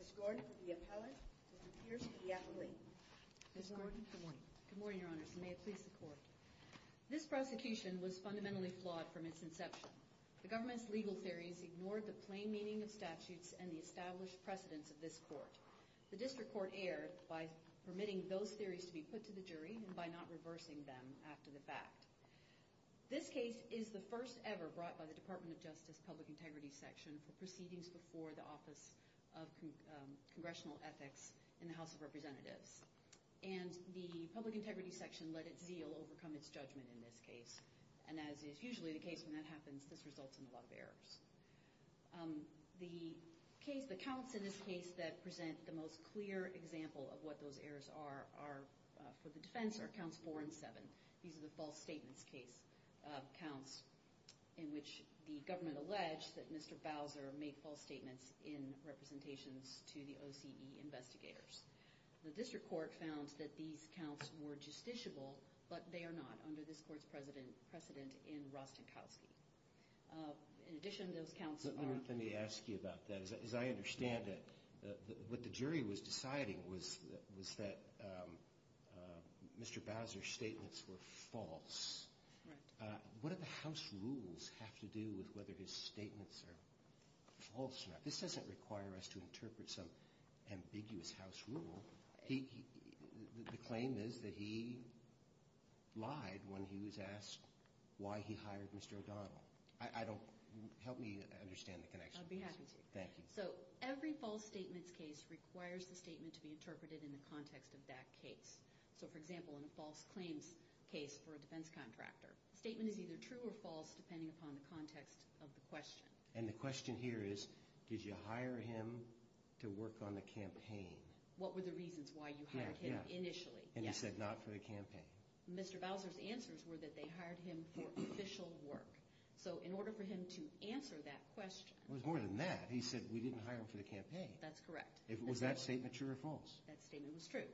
Ms. Gordon for the appellate, Mr. Peters for the appellate. Ms. Gordon, good morning. Good morning, Your Honors. And may it please the Court. This prosecution was fundamentally flawed from its inception. The government's legal theories ignored the plain meaning of statutes and the established precedence of this Court. The District Court erred by permitting those theories to be put to the jury and by not reversing them after the fact. This case is the first ever brought by the Department of Justice Public Integrity Section for proceedings before the Office of Congressional Ethics in the House of Representatives. And the Public Integrity Section let its zeal overcome its judgment in this case. And as is usually the case when that happens, this results in a lot of errors. The case, the counts in this case that present the most clear example of what those errors are for the defense are counts four and seven. These are the false statements case counts in which the government alleged that Mr. Bowser made false statements in representations to the OCE investigators. The District Court found that these counts were justiciable, but they are not under this Court's precedent in Rostenkowski. In addition, those counts are... Let me ask you about that. As I understand it, what the jury was deciding was that Mr. Bowser's statements were false. Right. What do the House rules have to do with whether his statements are false or not? This doesn't require us to interpret some ambiguous House rule. The claim is that he lied when he was asked why he hired Mr. O'Donnell. I don't... Help me understand the connection. I'd be happy to. Thank you. So every false statements case requires the statement to be interpreted in the context of that case. So, for example, in a false claims case for a defense contractor, the statement is either true or false depending upon the context of the question. And the question here is, did you hire him to work on the campaign? What were the reasons why you hired him initially? And you said not for the campaign. Mr. Bowser's answers were that they hired him for official work. So in order for him to answer that question... It was more than that. He said, we didn't hire him for the campaign. That's correct. Was that statement true or false? That statement was true.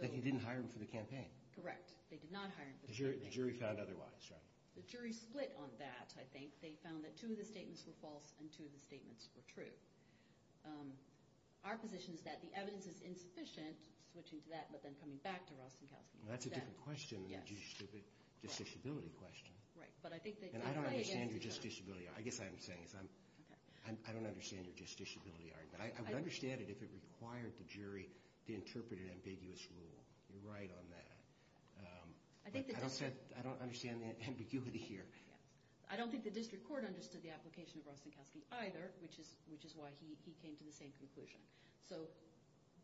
But you didn't hire him for the campaign. Correct. They did not hire him for the campaign. The jury found otherwise, right? The jury split on that, I think. They found that two of the statements were false and two of the statements were true. Our position is that the evidence is insufficient. Switching to that, but then coming back to Rostenkowski. That's a different question than the justiciability question. Right. And I don't understand your justiciability argument. I guess what I'm saying is I don't understand your justiciability argument. I would understand it if it required the jury to interpret an ambiguous rule. You're right on that. But I don't understand the ambiguity here. I don't think the district court understood the application of Rostenkowski either, which is why he came to the same conclusion. So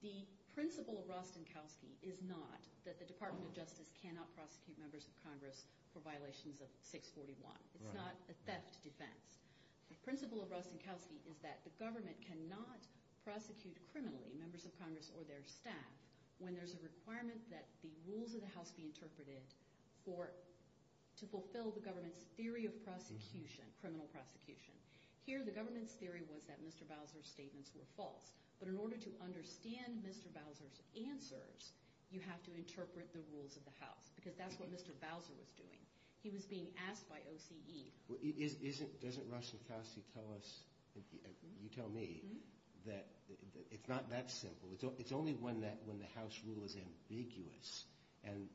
the principle of Rostenkowski is not that the Department of Justice cannot prosecute members of Congress for violations of 641. It's not a theft defense. The principle of Rostenkowski is that the government cannot prosecute criminally members of Congress or their staff when there's a requirement that the rules of the house be interpreted to fulfill the government's theory of prosecution, criminal prosecution. Here, the government's theory was that Mr. Bowser's statements were false. But in order to understand Mr. Bowser's answers, you have to interpret the rules of the house. Because that's what Mr. Bowser was doing. He was being asked by OCE. Doesn't Rostenkowski tell us, you tell me, that it's not that simple? It's only when the house rule is ambiguous and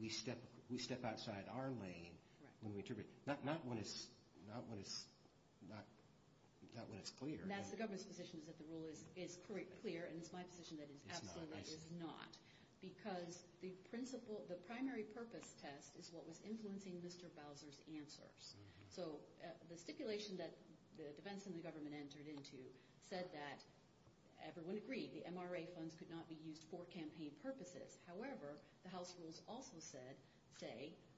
we step outside our lane when we interpret it. Not when it's clear. That's the government's position is that the rule is clear, and it's my position that it absolutely is not. Because the primary purpose test is what was influencing Mr. Bowser's answers. So the stipulation that the defense and the government entered into said that everyone agreed the MRA funds could not be used for campaign purposes. However, the house rules also say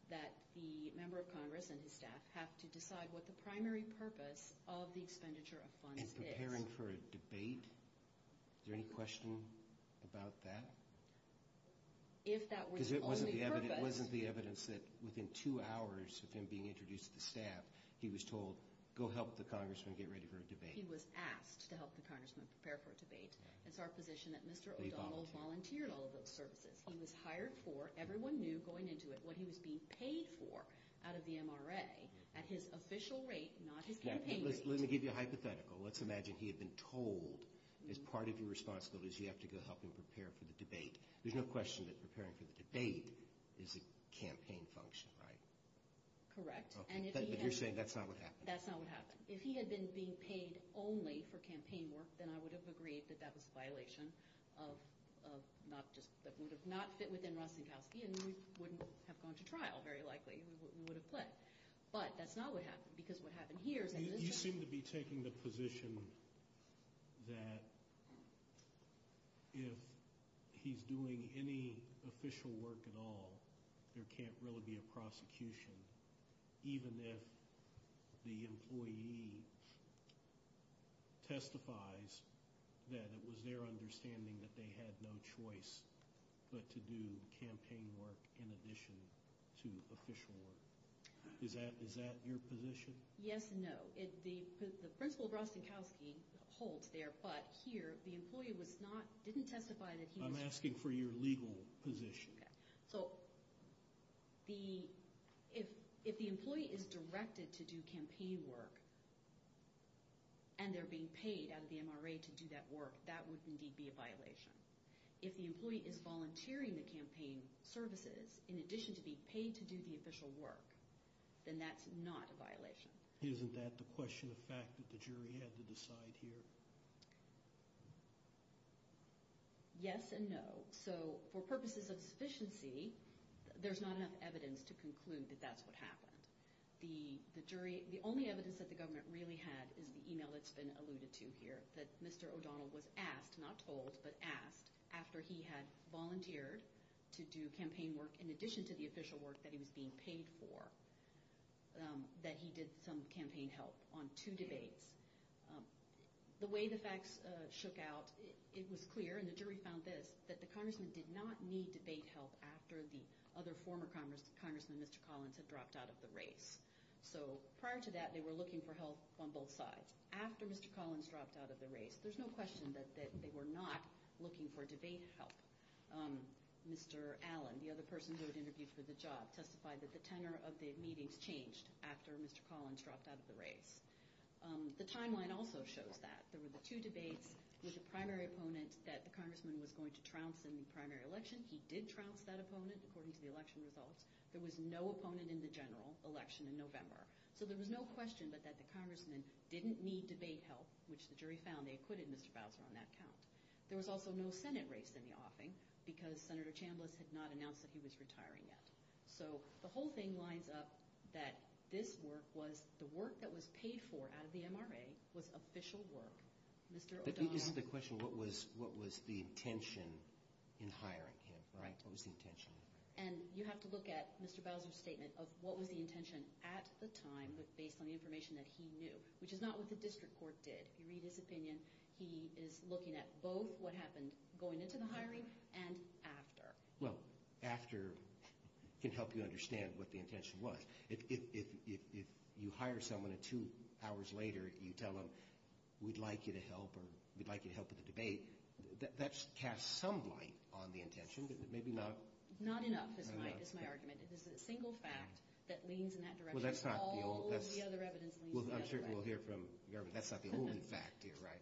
that the member of Congress and his staff have to decide what the primary purpose of the expenditure of funds is. And preparing for a debate? Is there any question about that? If that were the only purpose... Because it wasn't the evidence that within two hours of him being introduced to the staff, he was told, go help the congressman get ready for a debate. He was asked to help the congressman prepare for a debate. It's our position that Mr. O'Donnell volunteered all of those services. He was hired for, everyone knew going into it, what he was being paid for out of the MRA at his official rate, not his campaign rate. Let me give you a hypothetical. Let's imagine he had been told, as part of your responsibility, you have to go help him prepare for the debate. There's no question that preparing for the debate is a campaign function, right? Correct. But you're saying that's not what happened? That's not what happened. If he had been being paid only for campaign work, then I would have agreed that that was a violation that would have not fit within Rosinkowski, and we wouldn't have gone to trial, very likely. We would have pled. But that's not what happened, because what happened here is... You seem to be taking the position that if he's doing any official work at all, there can't really be a prosecution, even if the employee testifies that it was their understanding that they had no choice but to do campaign work in addition to official work. Is that your position? Yes and no. The principle of Rosinkowski holds there, but here the employee didn't testify that he was... I'm asking for your legal position. So if the employee is directed to do campaign work and they're being paid out of the MRA to do that work, that would indeed be a violation. If the employee is volunteering the campaign services in addition to being paid to do the official work, then that's not a violation. Isn't that the question of fact that the jury had to decide here? Yes and no. So for purposes of sufficiency, there's not enough evidence to conclude that that's what happened. The only evidence that the government really had is the email that's been alluded to here, that Mr. O'Donnell was asked, not told, but asked after he had volunteered to do campaign work in addition to the official work that he was being paid for, that he did some campaign help on two debates. The way the facts shook out, it was clear, and the jury found this, that the congressman did not need debate help after the other former congressman, Mr. Collins, had dropped out of the race. So prior to that, they were looking for help on both sides. After Mr. Collins dropped out of the race, there's no question that they were not looking for debate help. Mr. Allen, the other person who had interviewed for the job, testified that the tenor of the meetings changed after Mr. Collins dropped out of the race. The timeline also shows that. There were the two debates with the primary opponent that the congressman was going to trounce in the primary election. He did trounce that opponent, according to the election results. There was no opponent in the general election in November. So there was no question but that the congressman didn't need debate help, which the jury found. They acquitted Mr. Bowser on that count. There was also no Senate race in the offing because Senator Chambliss had not announced that he was retiring yet. So the whole thing lines up that this work was the work that was paid for out of the MRA was official work. Mr. O'Donnell. But this is the question, what was the intention in hiring him, right? What was the intention? And you have to look at Mr. Bowser's statement of what was the intention at the time, but based on the information that he knew, which is not what the district court did. If you read his opinion, he is looking at both what happened going into the hiring and after. Well, after can help you understand what the intention was. If you hire someone and two hours later you tell them, we'd like you to help with the debate, that casts some light on the intention, but maybe not. Not enough is my argument. It is a single fact that leans in that direction. All of the other evidence leans in the other direction. Well, I'm sure we'll hear from Garvin, that's not the only fact here, right?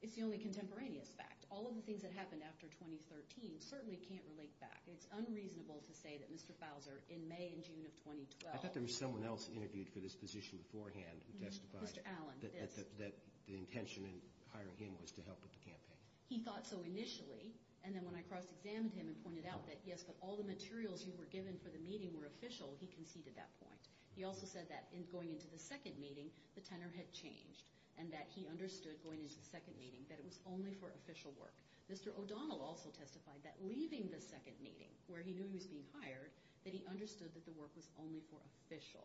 It's the only contemporaneous fact. All of the things that happened after 2013 certainly can't relate back. It's unreasonable to say that Mr. Bowser in May and June of 2012. I thought there was someone else interviewed for this position beforehand who testified that the intention in hiring him was to help with the campaign. He thought so initially, and then when I cross-examined him and pointed out that yes, but all the materials you were given for the meeting were official, he conceded that point. He also said that in going into the second meeting, the tenor had changed and that he understood going into the second meeting that it was only for official work. Mr. O'Donnell also testified that leaving the second meeting where he knew he was being hired, that he understood that the work was only for official.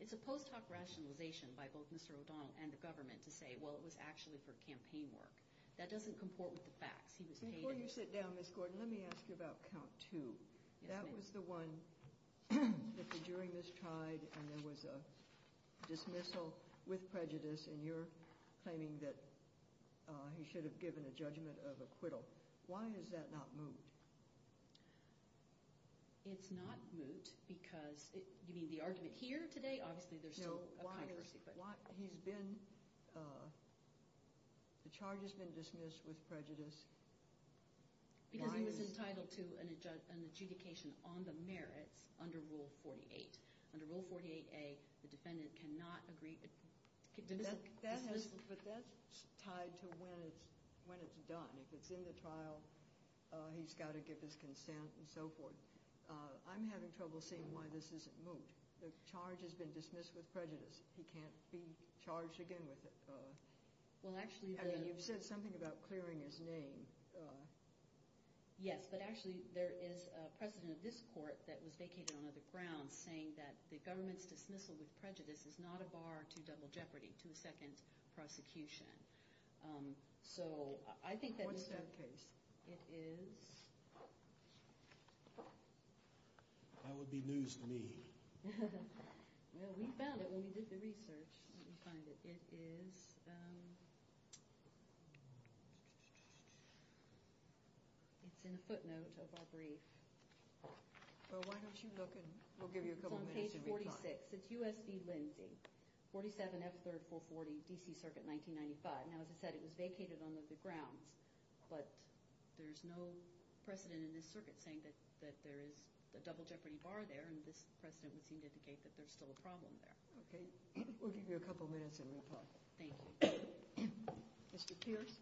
It's a post-hoc rationalization by both Mr. O'Donnell and the government to say, well, it was actually for campaign work. That doesn't comport with the facts. Before you sit down, Ms. Gordon, let me ask you about count two. That was the one that the jury mistried and there was a dismissal with prejudice and you're claiming that he should have given a judgment of acquittal. Why is that not moot? It's not moot because, you mean the argument here today? Obviously, there's still a controversy. No, he's been, the charge has been dismissed with prejudice. Because he was entitled to an adjudication on the merits under Rule 48. Under Rule 48A, the defendant cannot agree. But that's tied to when it's done. If it's in the trial, he's got to give his consent and so forth. I'm having trouble seeing why this isn't moot. The charge has been dismissed with prejudice. He can't be charged again with it. I mean, you've said something about clearing his name. Yes, but actually there is a precedent of this court that was vacated on other grounds saying that the government's dismissal with prejudice is not a bar to double jeopardy, to a second prosecution. What's that case? It is... That would be news to me. Well, we found it when we did the research. Let me find it. It is... It's in a footnote of our brief. Well, why don't you look and we'll give you a couple of minutes to reply. It's on page 46. It's U.S. v. Lindsay. 47F 3rd 440, D.C. Circuit, 1995. Now, as I said, it was vacated on other grounds, but there's no precedent in this circuit saying that there is a double jeopardy bar there and this precedent would seem to indicate that there's still a problem there. Okay. We'll give you a couple of minutes and reply. Thank you. Mr. Pierce?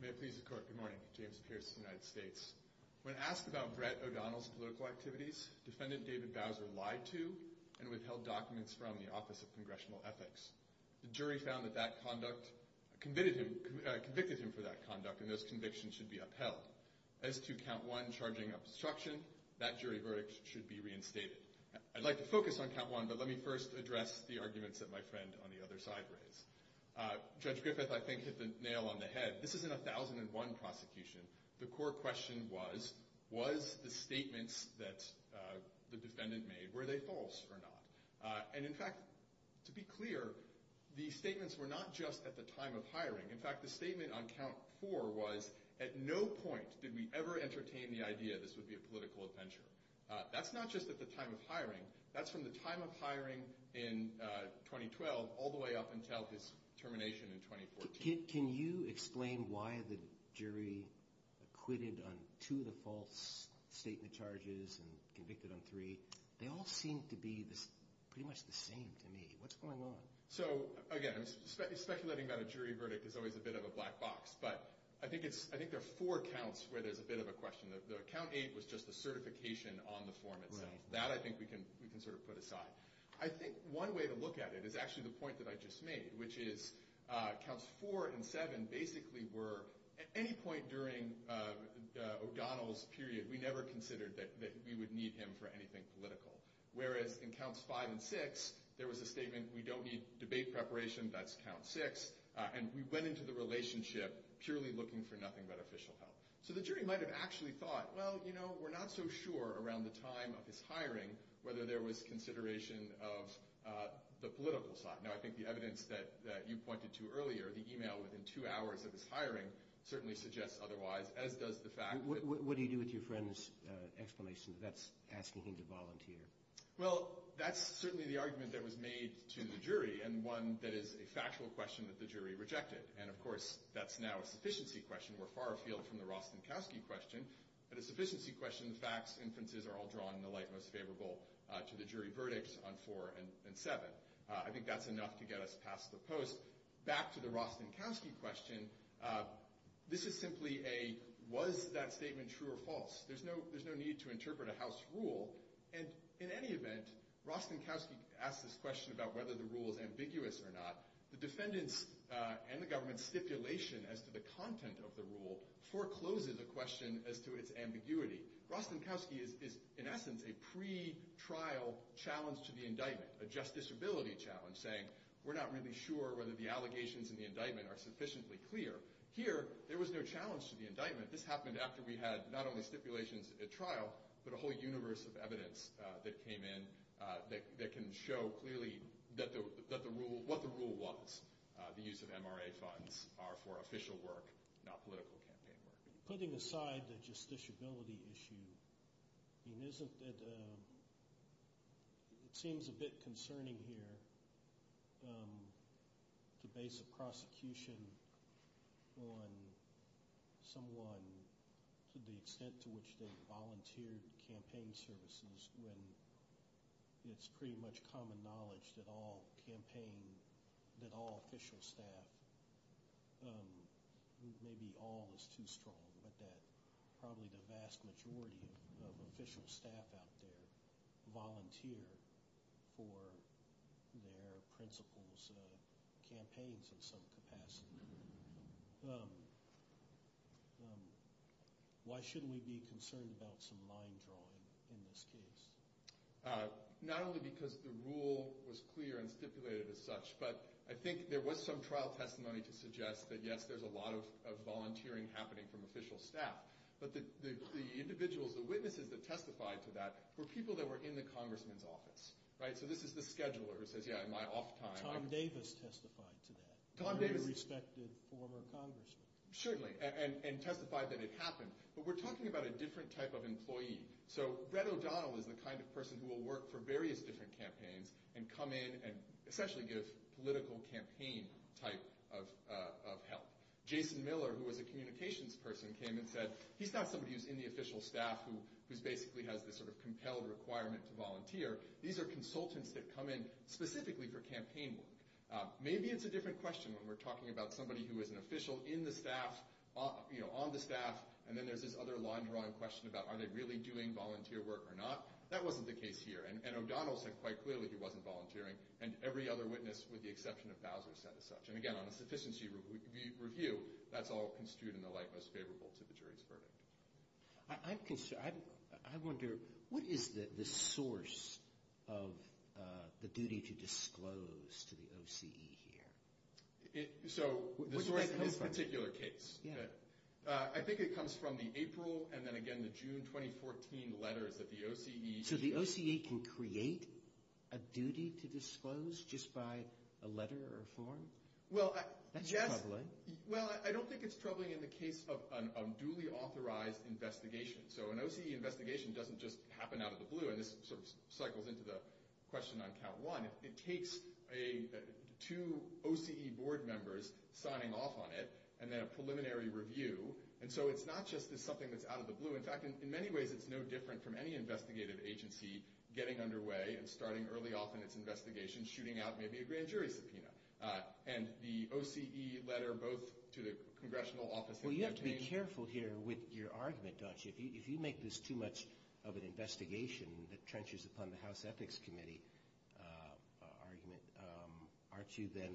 May it please the Court, good morning. James Pierce, United States. When asked about Brett O'Donnell's political activities, defendant David Bowser lied to and withheld documents from the Office of Congressional Ethics. The jury found that that conduct... convicted him for that conduct and those convictions should be upheld. the jury found that count two, charging obstruction, and count three, that jury verdict should be reinstated. I'd like to focus on count one, but let me first address the arguments that my friend on the other side raised. Judge Griffith, I think, hit the nail on the head. This is in a 1001 prosecution. The court question was, was the statements that the defendant made, were they false or not? And in fact, to be clear, the statements were not just at the time of hiring. In fact, the statement on count four was, at no point did we ever entertain the idea that this would be a political adventure. That's not just at the time of hiring. That's from the time of hiring in 2012 all the way up until his termination in 2014. Can you explain why the jury acquitted on two of the false statement charges and convicted on three? They all seem to be pretty much the same to me. What's going on? So, again, speculating about a jury verdict is always a bit of a black box, but I think there are four counts where there's a bit of a question. The count eight was just the certification on the form itself. That, I think, we can sort of put aside. I think one way to look at it is actually the point that I just made, which is counts four and seven basically were, at any point during O'Donnell's period, we never considered that we would need him for anything political. Whereas in counts five and six, there was a statement, we don't need debate preparation, that's count six, and we went into the relationship purely looking for nothing but official help. So the jury might have actually thought, well, you know, we're not so sure around the time of his hiring whether there was consideration of the political side. Now, I think the evidence that you pointed to earlier, the email within two hours of his hiring, certainly suggests otherwise, as does the fact... What do you do with your friend's explanation that that's asking him to volunteer? Well, that's certainly the argument that was made to the jury, and one that is a factual question that the jury rejected. And, of course, that's now a sufficiency question. We're far afield from the Rostenkowski question. But a sufficiency question, the facts, inferences, are all drawn in the light most favorable to the jury verdicts on four and seven. I think that's enough to get us past the post. Back to the Rostenkowski question, this is simply a, was that statement true or false? There's no need to interpret a House rule. And in any event, Rostenkowski asks this question about whether the rule is ambiguous or not. The defendants and the government's stipulation as to the content of the rule forecloses a question as to its ambiguity. Rostenkowski is, in essence, a pretrial challenge to the indictment, a justiciability challenge, saying we're not really sure whether the allegations in the indictment are sufficiently clear. Here, there was no challenge to the indictment. This happened after we had not only stipulations at trial, but a whole universe of evidence that came in that can show clearly what the rule was, the use of MRA funds are for official work, not political campaign work. Putting aside the justiciability issue, isn't it, it seems a bit concerning here to base a prosecution on someone to the extent to which they volunteered campaign services when it's pretty much common knowledge that all campaign, that all official staff, maybe all is too strong, but that probably the vast majority of official staff out there volunteer for their principals' campaigns in some capacity. Why shouldn't we be concerned about some line drawing in this case? Not only because the rule was clear and stipulated as such, but I think there was some trial testimony to suggest that yes, there's a lot of volunteering happening from official staff, but the individuals, the witnesses that testified to that were people that were in the congressman's office. So this is the scheduler who says, yeah, in my off time. Tom Davis testified to that. Tom Davis. A respected former congressman. Certainly, and testified that it happened, but we're talking about a different type of employee. So Brett O'Donnell is the kind of person who will work for various different campaigns and come in and essentially give political campaign type of help. Jason Miller, who was a communications person, came and said, he's not somebody who's in the official staff who basically has this sort of compelled requirement to volunteer. These are consultants that come in specifically for campaign work. Maybe it's a different question when we're talking about somebody who is an official in the staff, on the staff, and then there's this other line drawing question about are they really doing volunteer work or not. That wasn't the case here. And O'Donnell said quite clearly he wasn't volunteering. And every other witness, with the exception of Bowser, said as such. And again, on a sufficiency review, that's all construed in the light most favorable to the jury's verdict. I wonder, what is the source of the duty to disclose to the OCE here? So, the source in this particular case. I think it comes from the April, and then again the June 2014 letters that the OCE... So the OCE can create a duty to disclose just by a letter or a form? That's troubling. Well, I don't think it's troubling in the case of a duly authorized investigation. So an OCE investigation doesn't just happen out of the blue. And this sort of cycles into the question on count one. It takes two OCE board members signing off on it, and then a preliminary review. And so it's not just as something that's out of the blue. In fact, in many ways, it's no different from any investigative agency getting underway and starting early off in its investigation shooting out maybe a grand jury subpoena. And the OCE letter both to the congressional office... Well, you have to be careful here with your argument, don't you? If you make this too much of an investigation that trenches upon the House Ethics Committee argument, aren't you then...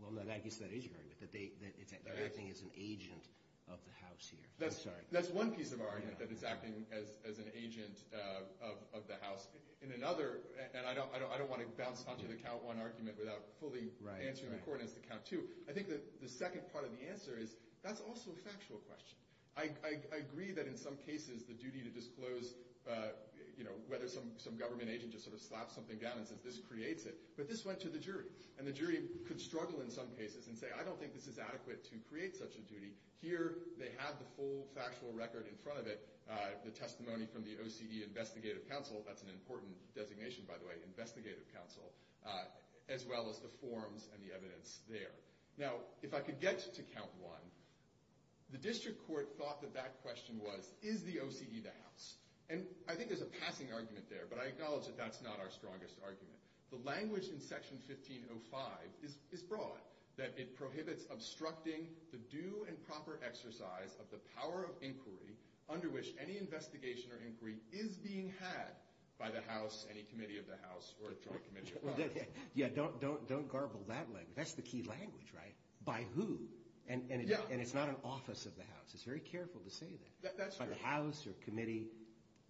Well, I guess that is your argument. That it's acting as an agent of the House here. I'm sorry. That's one piece of argument that it's acting as an agent of the House. In another... And I don't want to bounce onto the count one argument without fully answering the coordinates to count two. I think that the second part of the answer is that's also a factual question. I agree that in some cases the duty to disclose whether some government agent just sort of slaps something down and says, this creates it. But this went to the jury. And the jury could struggle in some cases and say, I don't think this is adequate to create such a duty. Here, they have the full factual record in front of it. The testimony from the OCD Investigative Council. That's an important designation, by the way. Investigative Council. As well as the forms and the evidence there. Now, if I could get to count one. The district court thought that that question was is the OCD the House? And I think there's a passing argument there. But I acknowledge that that's not our strongest argument. The language in Section 1505 is broad. That it prohibits obstructing the due and proper exercise of the power of inquiry under which any investigation or inquiry is being had by the House, any committee of the House, or a joint committee of the House. Yeah, don't garble that language. That's the key language, right? By who? And it's not an office of the House. It's very careful to say that. By the House or committee.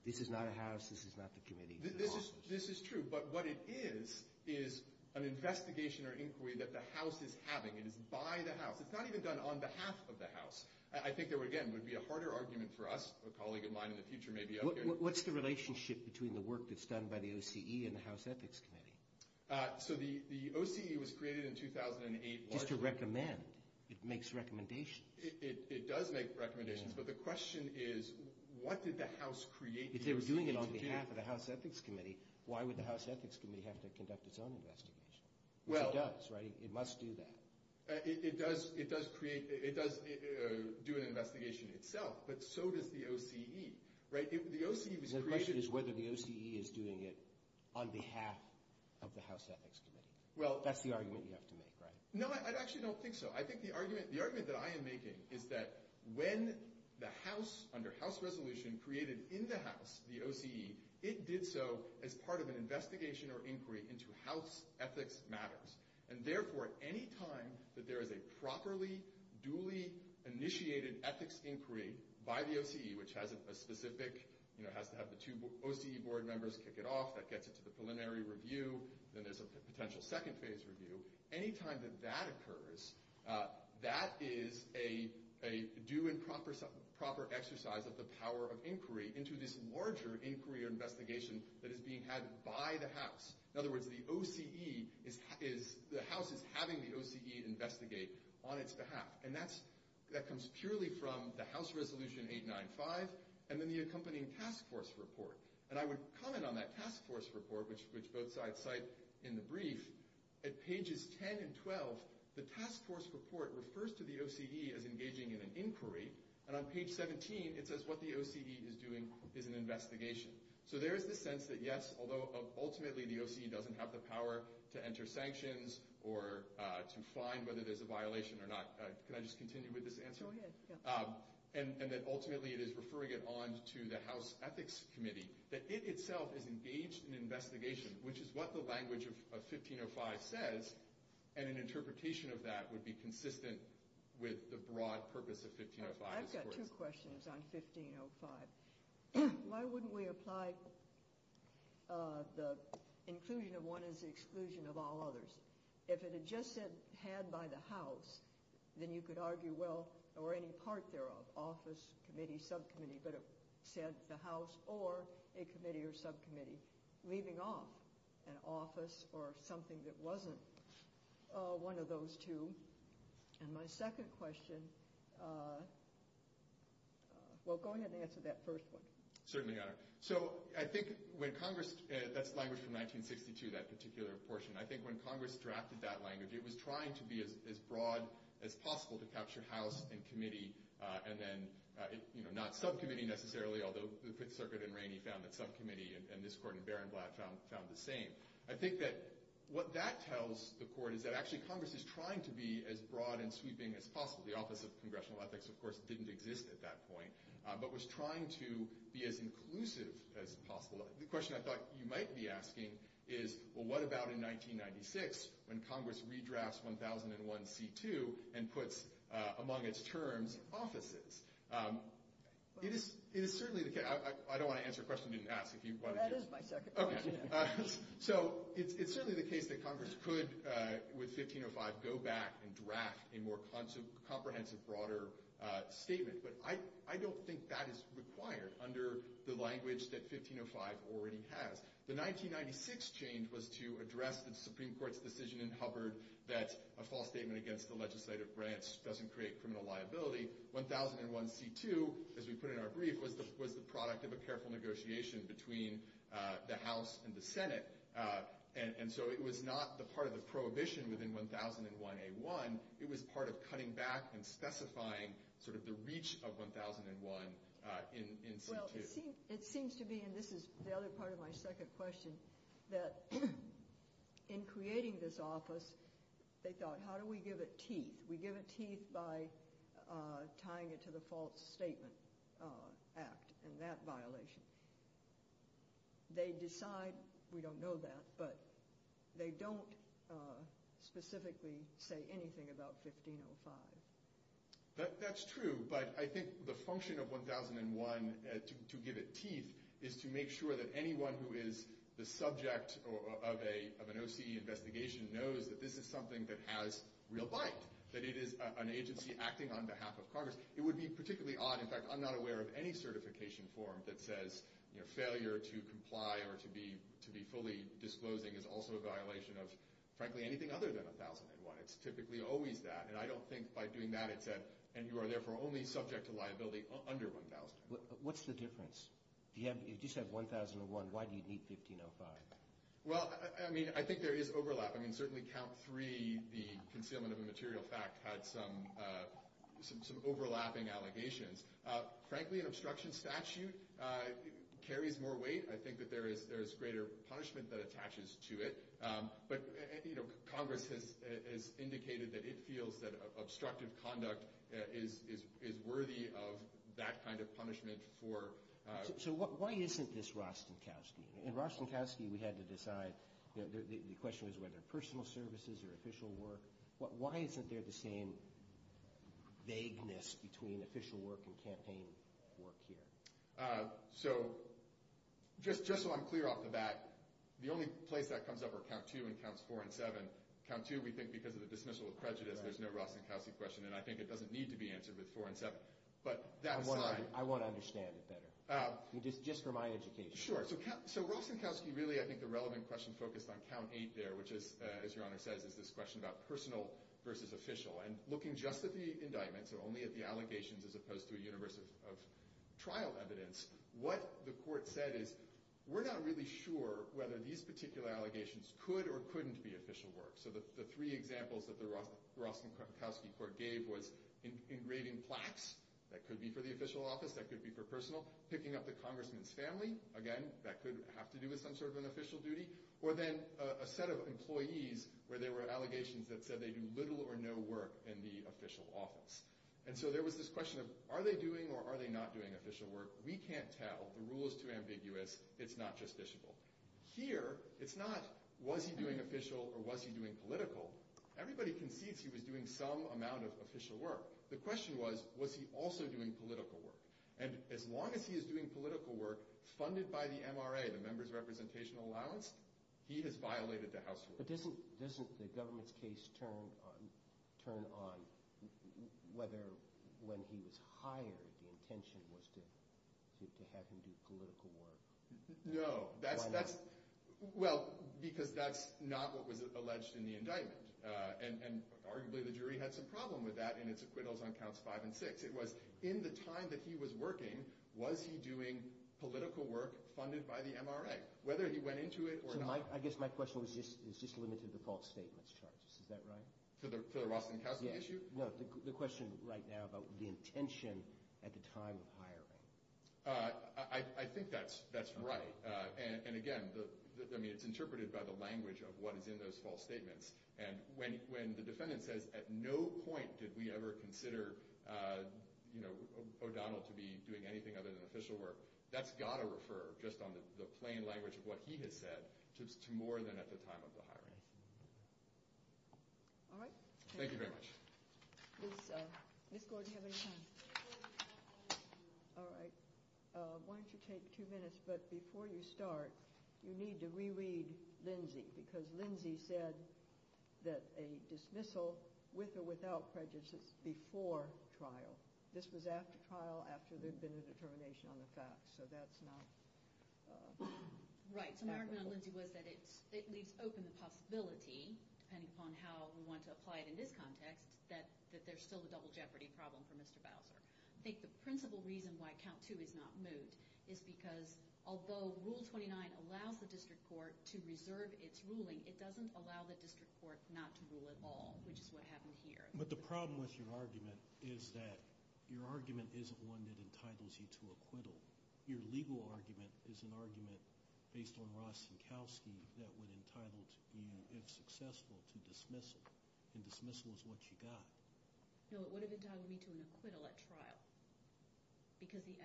This is not a House. This is not the committee. This is an office. This is true. But what it is is an investigation or inquiry that the House is having. It is by the House. It's not even done on behalf of the House. I think there, again, would be a harder argument for us. A colleague of mine in the future may be okay. What's the relationship between the work that's done by the OCE and the House Ethics Committee? So the OCE was created in 2008 largely. Just to recommend. It makes recommendations. It does make recommendations. But the question is what did the House create the OCE to do? If they were doing it on behalf of the House Ethics Committee, why would the House Ethics Committee have to conduct its own investigation? Which it does, right? It must do that. It does create... It does do an investigation itself, but so does the OCE, right? The OCE was created... The question is whether the OCE is doing it on behalf of the House Ethics Committee. That's the argument you have to make, right? No, I actually don't think so. I think the argument that I am making is that when the House, under House resolution, created in the House the OCE, it did so as part of an investigation or inquiry into House ethics matters. And therefore, any time that there is a properly, duly initiated ethics inquiry by the OCE, which has a specific... Has to have the two OCE board members kick it off. That gets it to the preliminary review. Then there's a potential second phase review. Any time that that occurs, that is a due and proper exercise of the power of inquiry into this larger inquiry or investigation that is being had by the House. In other words, the OCE is... The House is having the OCE investigate on its behalf. And that comes purely from the House resolution 895 and then the accompanying task force report. And I would comment on that task force report, which both sides cite in the brief. At pages 10 and 12, the task force report refers to the OCE as engaging in an inquiry. And on page 17, it says what the OCE is doing is an investigation. So there is this sense that yes, although ultimately the OCE doesn't have the power to enter sanctions or to find whether there's a violation or not. Can I just continue with this answer? Go ahead. And that ultimately it is referring it on to the House Ethics Committee. That it itself is engaged in investigation, which is what the language of 1505 says. And an interpretation of that would be consistent with the broad purpose of 1505. I've got two questions on 1505. Why wouldn't we apply the inclusion of one as the exclusion of all others? If it had just said, had by the House, then you could argue, well, or any part thereof, office, committee, subcommittee, but it said the House or a committee or subcommittee leaving off an office or something that wasn't one of those two. And my second question, well, go ahead and answer that first one. Certainly, Your Honor. So I think when Congress, that's language from 1962, that particular portion. I think when Congress drafted that language, it was trying to be as broad as possible to capture House and committee and then not subcommittee necessarily, although the Fifth Circuit in Rainey found that subcommittee and this Court in Berenblatt found the same. I think that what that tells the Court is that actually Congress is trying to be as broad and sweeping as possible. The Office of Congressional Ethics, of course, didn't exist at that point, but was trying to be as inclusive as possible. The question I thought you might be asking is, well, what about in 1996 when Congress redrafts 1001c2 and puts among its terms offices? It is certainly the case. I don't want to answer a question you didn't ask. That is my second question. So it's certainly the case that Congress could, with 1505, go back and draft a more comprehensive, broader statement, but I don't think that is required under the language that 1505 already has. The 1996 change was to address the Supreme Court's decision in Hubbard that a false statement against the legislative branch doesn't create criminal liability. 1001c2, as we put in our brief, was the product of a careful negotiation between the House and the Senate, and so it was not the part of the prohibition within 1001a1. It was part of cutting back and specifying sort of the reach of 1001 in c2. Well, it seems to be, and this is the other part of my second question, that in creating this office, they thought, how do we give it teeth? We give it teeth by tying it to the False Statement Act and that violation. They decide, we don't know that, but they don't specifically say anything about 1505. That's true, but I think the function of 1001, to give it teeth, is to make sure that anyone who is the subject of an OCE investigation knows that this is something that has real bite, that it is an agency acting on behalf of Congress. It would be particularly odd, in fact, I'm not aware of any certification form that says failure to comply or to be fully disclosing is also a violation of, frankly, anything other than 1001. It's typically always that, and I don't think by doing that it's a, and you are therefore only subject to liability under 1001. What's the difference? If you just have 1001, why do you need 1505? Well, I mean, I think there is overlap. I mean, certainly count three, the concealment of a material fact had some overlapping allegations. Frankly, an obstruction statute carries more weight. I think that there is greater punishment that attaches to it. But Congress has indicated that it feels that obstructive conduct is worthy of that kind of punishment for... So why isn't this Rostenkowski? In Rostenkowski we had to decide, the question was whether personal services or official work. Why isn't there the same vagueness between official work and campaign work here? So just so I'm clear off the bat, the only place that comes up are count two and counts four and seven. Count two we think because of the dismissal of prejudice, there's no Rostenkowski question, and I think it doesn't need to be answered with four and seven. But that aside... I want to understand it better. Just for my education. Sure. So Rostenkowski really, I think the relevant question focused on count eight there, which is, as Your Honor says, is this question about personal versus official. And looking just at the indictments or only at the allegations as opposed to a universe of trial evidence, what the court said is, we're not really sure whether these particular allegations could or couldn't be official work. So the three examples that the Rostenkowski court gave was engraving plaques, that could be for the official office, that could be for personal, picking up the congressman's family, again, that could have to do with some sort of an official duty, or then a set of employees where there were allegations that said they do little or no work in the official office. And so there was this question of, are they doing or are they not doing official work? We can't tell. The rule is too ambiguous. It's not justiciable. Here, it's not, was he doing official or was he doing political? Everybody concedes he was doing some amount of official work. The question was, was he also doing political work? And as long as he is doing political work, funded by the MRA, the members' representational allowance, he has violated the house rule. But doesn't the government's case turn on whether when he was hired, the intention was to have him do political work? No. Why not? Well, because that's not what was alleged in the indictment. And arguably the jury had some problem with that in its acquittals on counts five and six. It was, in the time that he was working, was he doing political work funded by the MRA? Whether he went into it or not. So I guess my question was, it's just limited to false statements charges. Is that right? For the Rostenkowski issue? No. The question right now about the intention at the time of hiring. I think that's right. And again, it's interpreted by the language of what is in those false statements. And when the defendant says, at no point did we ever consider O'Donnell to be doing anything other than official work, that's got to refer, just on the plain language of what he has said, to more than at the time of the hiring. All right. Thank you very much. Ms. Gordon, do you have any time? All right. Why don't you take two minutes, but before you start, you need to reread Lindsay. Because Lindsay said that a dismissal with or without prejudice is before trial. This was after trial, after there had been a determination on the facts. So that's not... Right. So my argument on Lindsay was that it leaves open the possibility, depending upon how we want to apply it in this context, that there's still a double jeopardy problem for Mr. Bowser. I think the principal reason why count two is not moot is because although Rule 29 allows the district court to reserve its ruling, it doesn't allow the district court not to rule at all, which is what happened here. But the problem with your argument is that your argument isn't one that entitles you to acquittal. Your legal argument is an argument based on Rostenkowski that would have entitled you, if successful, to dismissal, and dismissal is what you got. No, it would have entitled me to an acquittal at trial because the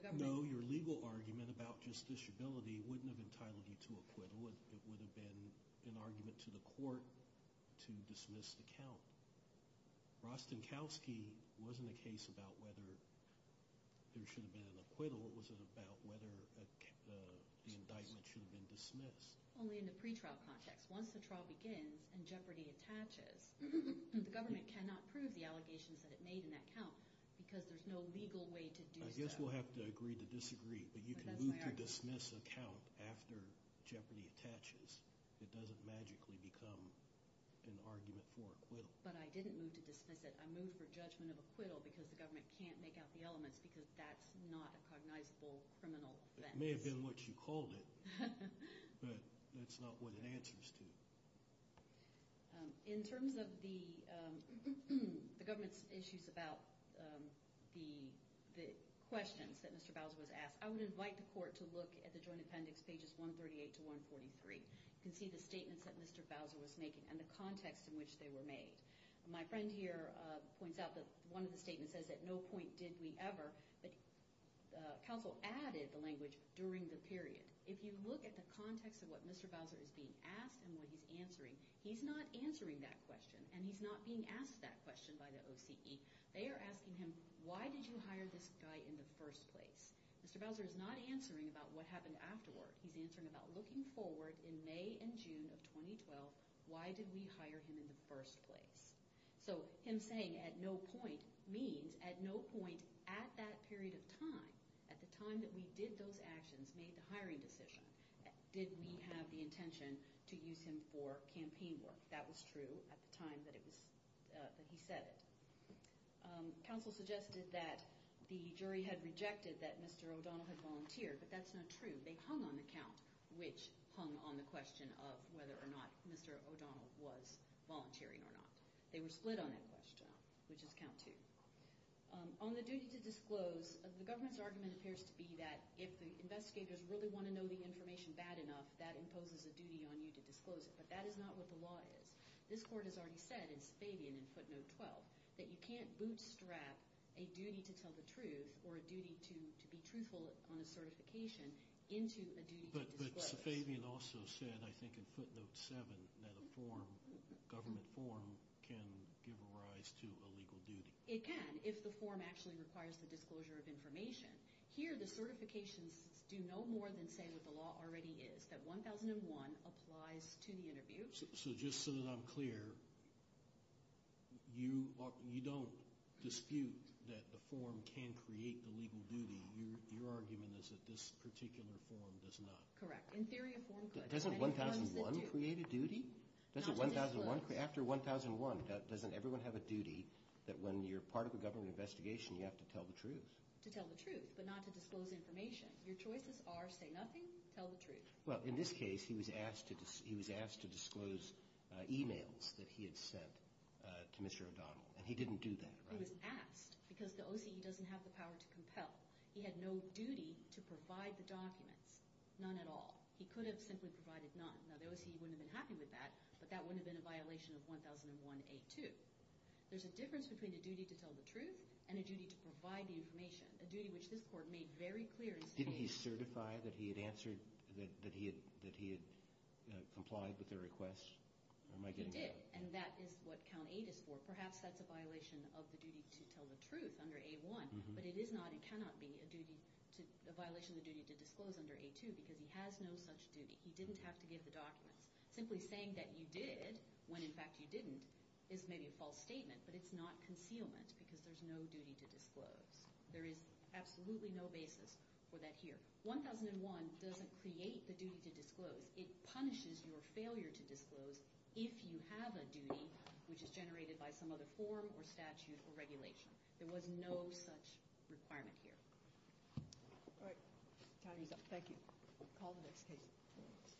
government... No, your legal argument about justiciability wouldn't have entitled you to acquittal. It would have been an argument to the court to dismiss the count. Rostenkowski wasn't a case about whether there should have been an acquittal. What was it about whether the indictment should have been dismissed? Only in the pretrial context. Once the trial begins and jeopardy attaches, the government cannot prove the allegations that it made in that count because there's no legal way to do so. I guess we'll have to agree to disagree, but you can move to dismiss a count after jeopardy attaches. It doesn't magically become an argument for acquittal. But I didn't move to dismiss it. I moved for judgment of acquittal because the government can't make out the elements because that's not a cognizable criminal offense. It may have been what you called it, but that's not what it answers to. In terms of the government's issues about the questions that Mr. Bowser was asked, I would invite the court to look at the joint appendix, pages 138 to 143. You can see the statements that Mr. Bowser was making and the context in which they were made. My friend here points out that one of the statements says at no point did we ever, but counsel added the language during the period. If you look at the context of what Mr. Bowser is being asked and what he's answering, he's not answering that question and he's not being asked that question by the OCE. They are asking him, why did you hire this guy in the first place? Mr. Bowser is not answering about what happened afterward. He's answering about looking forward in May and June of 2012, why did we hire him in the first place? So him saying at no point means at no point at that period of time, at the time that we did those actions, made the hiring decision, did we have the intention to use him for campaign work. That was true at the time that he said it. Counsel suggested that the jury had rejected that Mr. O'Donnell had volunteered, but that's not true. They hung on the count, which hung on the question of whether or not Mr. O'Donnell was volunteering or not. They were split on that question, which is count two. On the duty to disclose, the government's argument appears to be that if the investigators really want to know the information bad enough, that imposes a duty on you to disclose it, but that is not what the law is. This court has already said in Safavian in footnote 12, that you can't bootstrap a duty to tell the truth or a duty to be truthful on a certification into a duty to disclose. But Safavian also said, I think, in footnote 7, that a form, a government form, can give rise to a legal duty. It can, if the form actually requires the disclosure of information. Here, the certifications do no more than say what the law already is, that 1001 applies to the interview. So just so that I'm clear, you don't dispute that the form can create the legal duty. Your argument is that this particular form does not. Correct. In theory, a form could. Doesn't 1001 create a duty? After 1001, doesn't everyone have a duty that when you're part of a government investigation, you have to tell the truth? To tell the truth, but not to disclose information. Your choices are say nothing, tell the truth. Well, in this case, he was asked to disclose emails that he had sent to Mr. O'Donnell, and he didn't do that, right? He was asked, because the OCE doesn't have the power to compel. He had no duty to provide the documents. None at all. He could have simply provided none. Now, the OCE wouldn't have been happy with that, but that wouldn't have been a violation of 1001A2. There's a difference between a duty to tell the truth and a duty to provide the information, a duty which this Court made very clear. Didn't he certify that he had answered, that he had complied with the request? He did, and that is what Count 8 is for. Perhaps that's a violation of the duty to tell the truth under A1, but it is not and cannot be a violation of the duty to disclose under A2, because he has no such duty. He didn't have to give the documents. Simply saying that you did, when in fact you didn't, is maybe a false statement, but it's not concealment because there's no duty to disclose. There is absolutely no basis for that here. 1001 doesn't create the duty to disclose. It punishes your failure to disclose if you have a duty, which is generated by some other form or statute or regulation. There was no such requirement here. All right. Time is up. Thank you. Call the next case.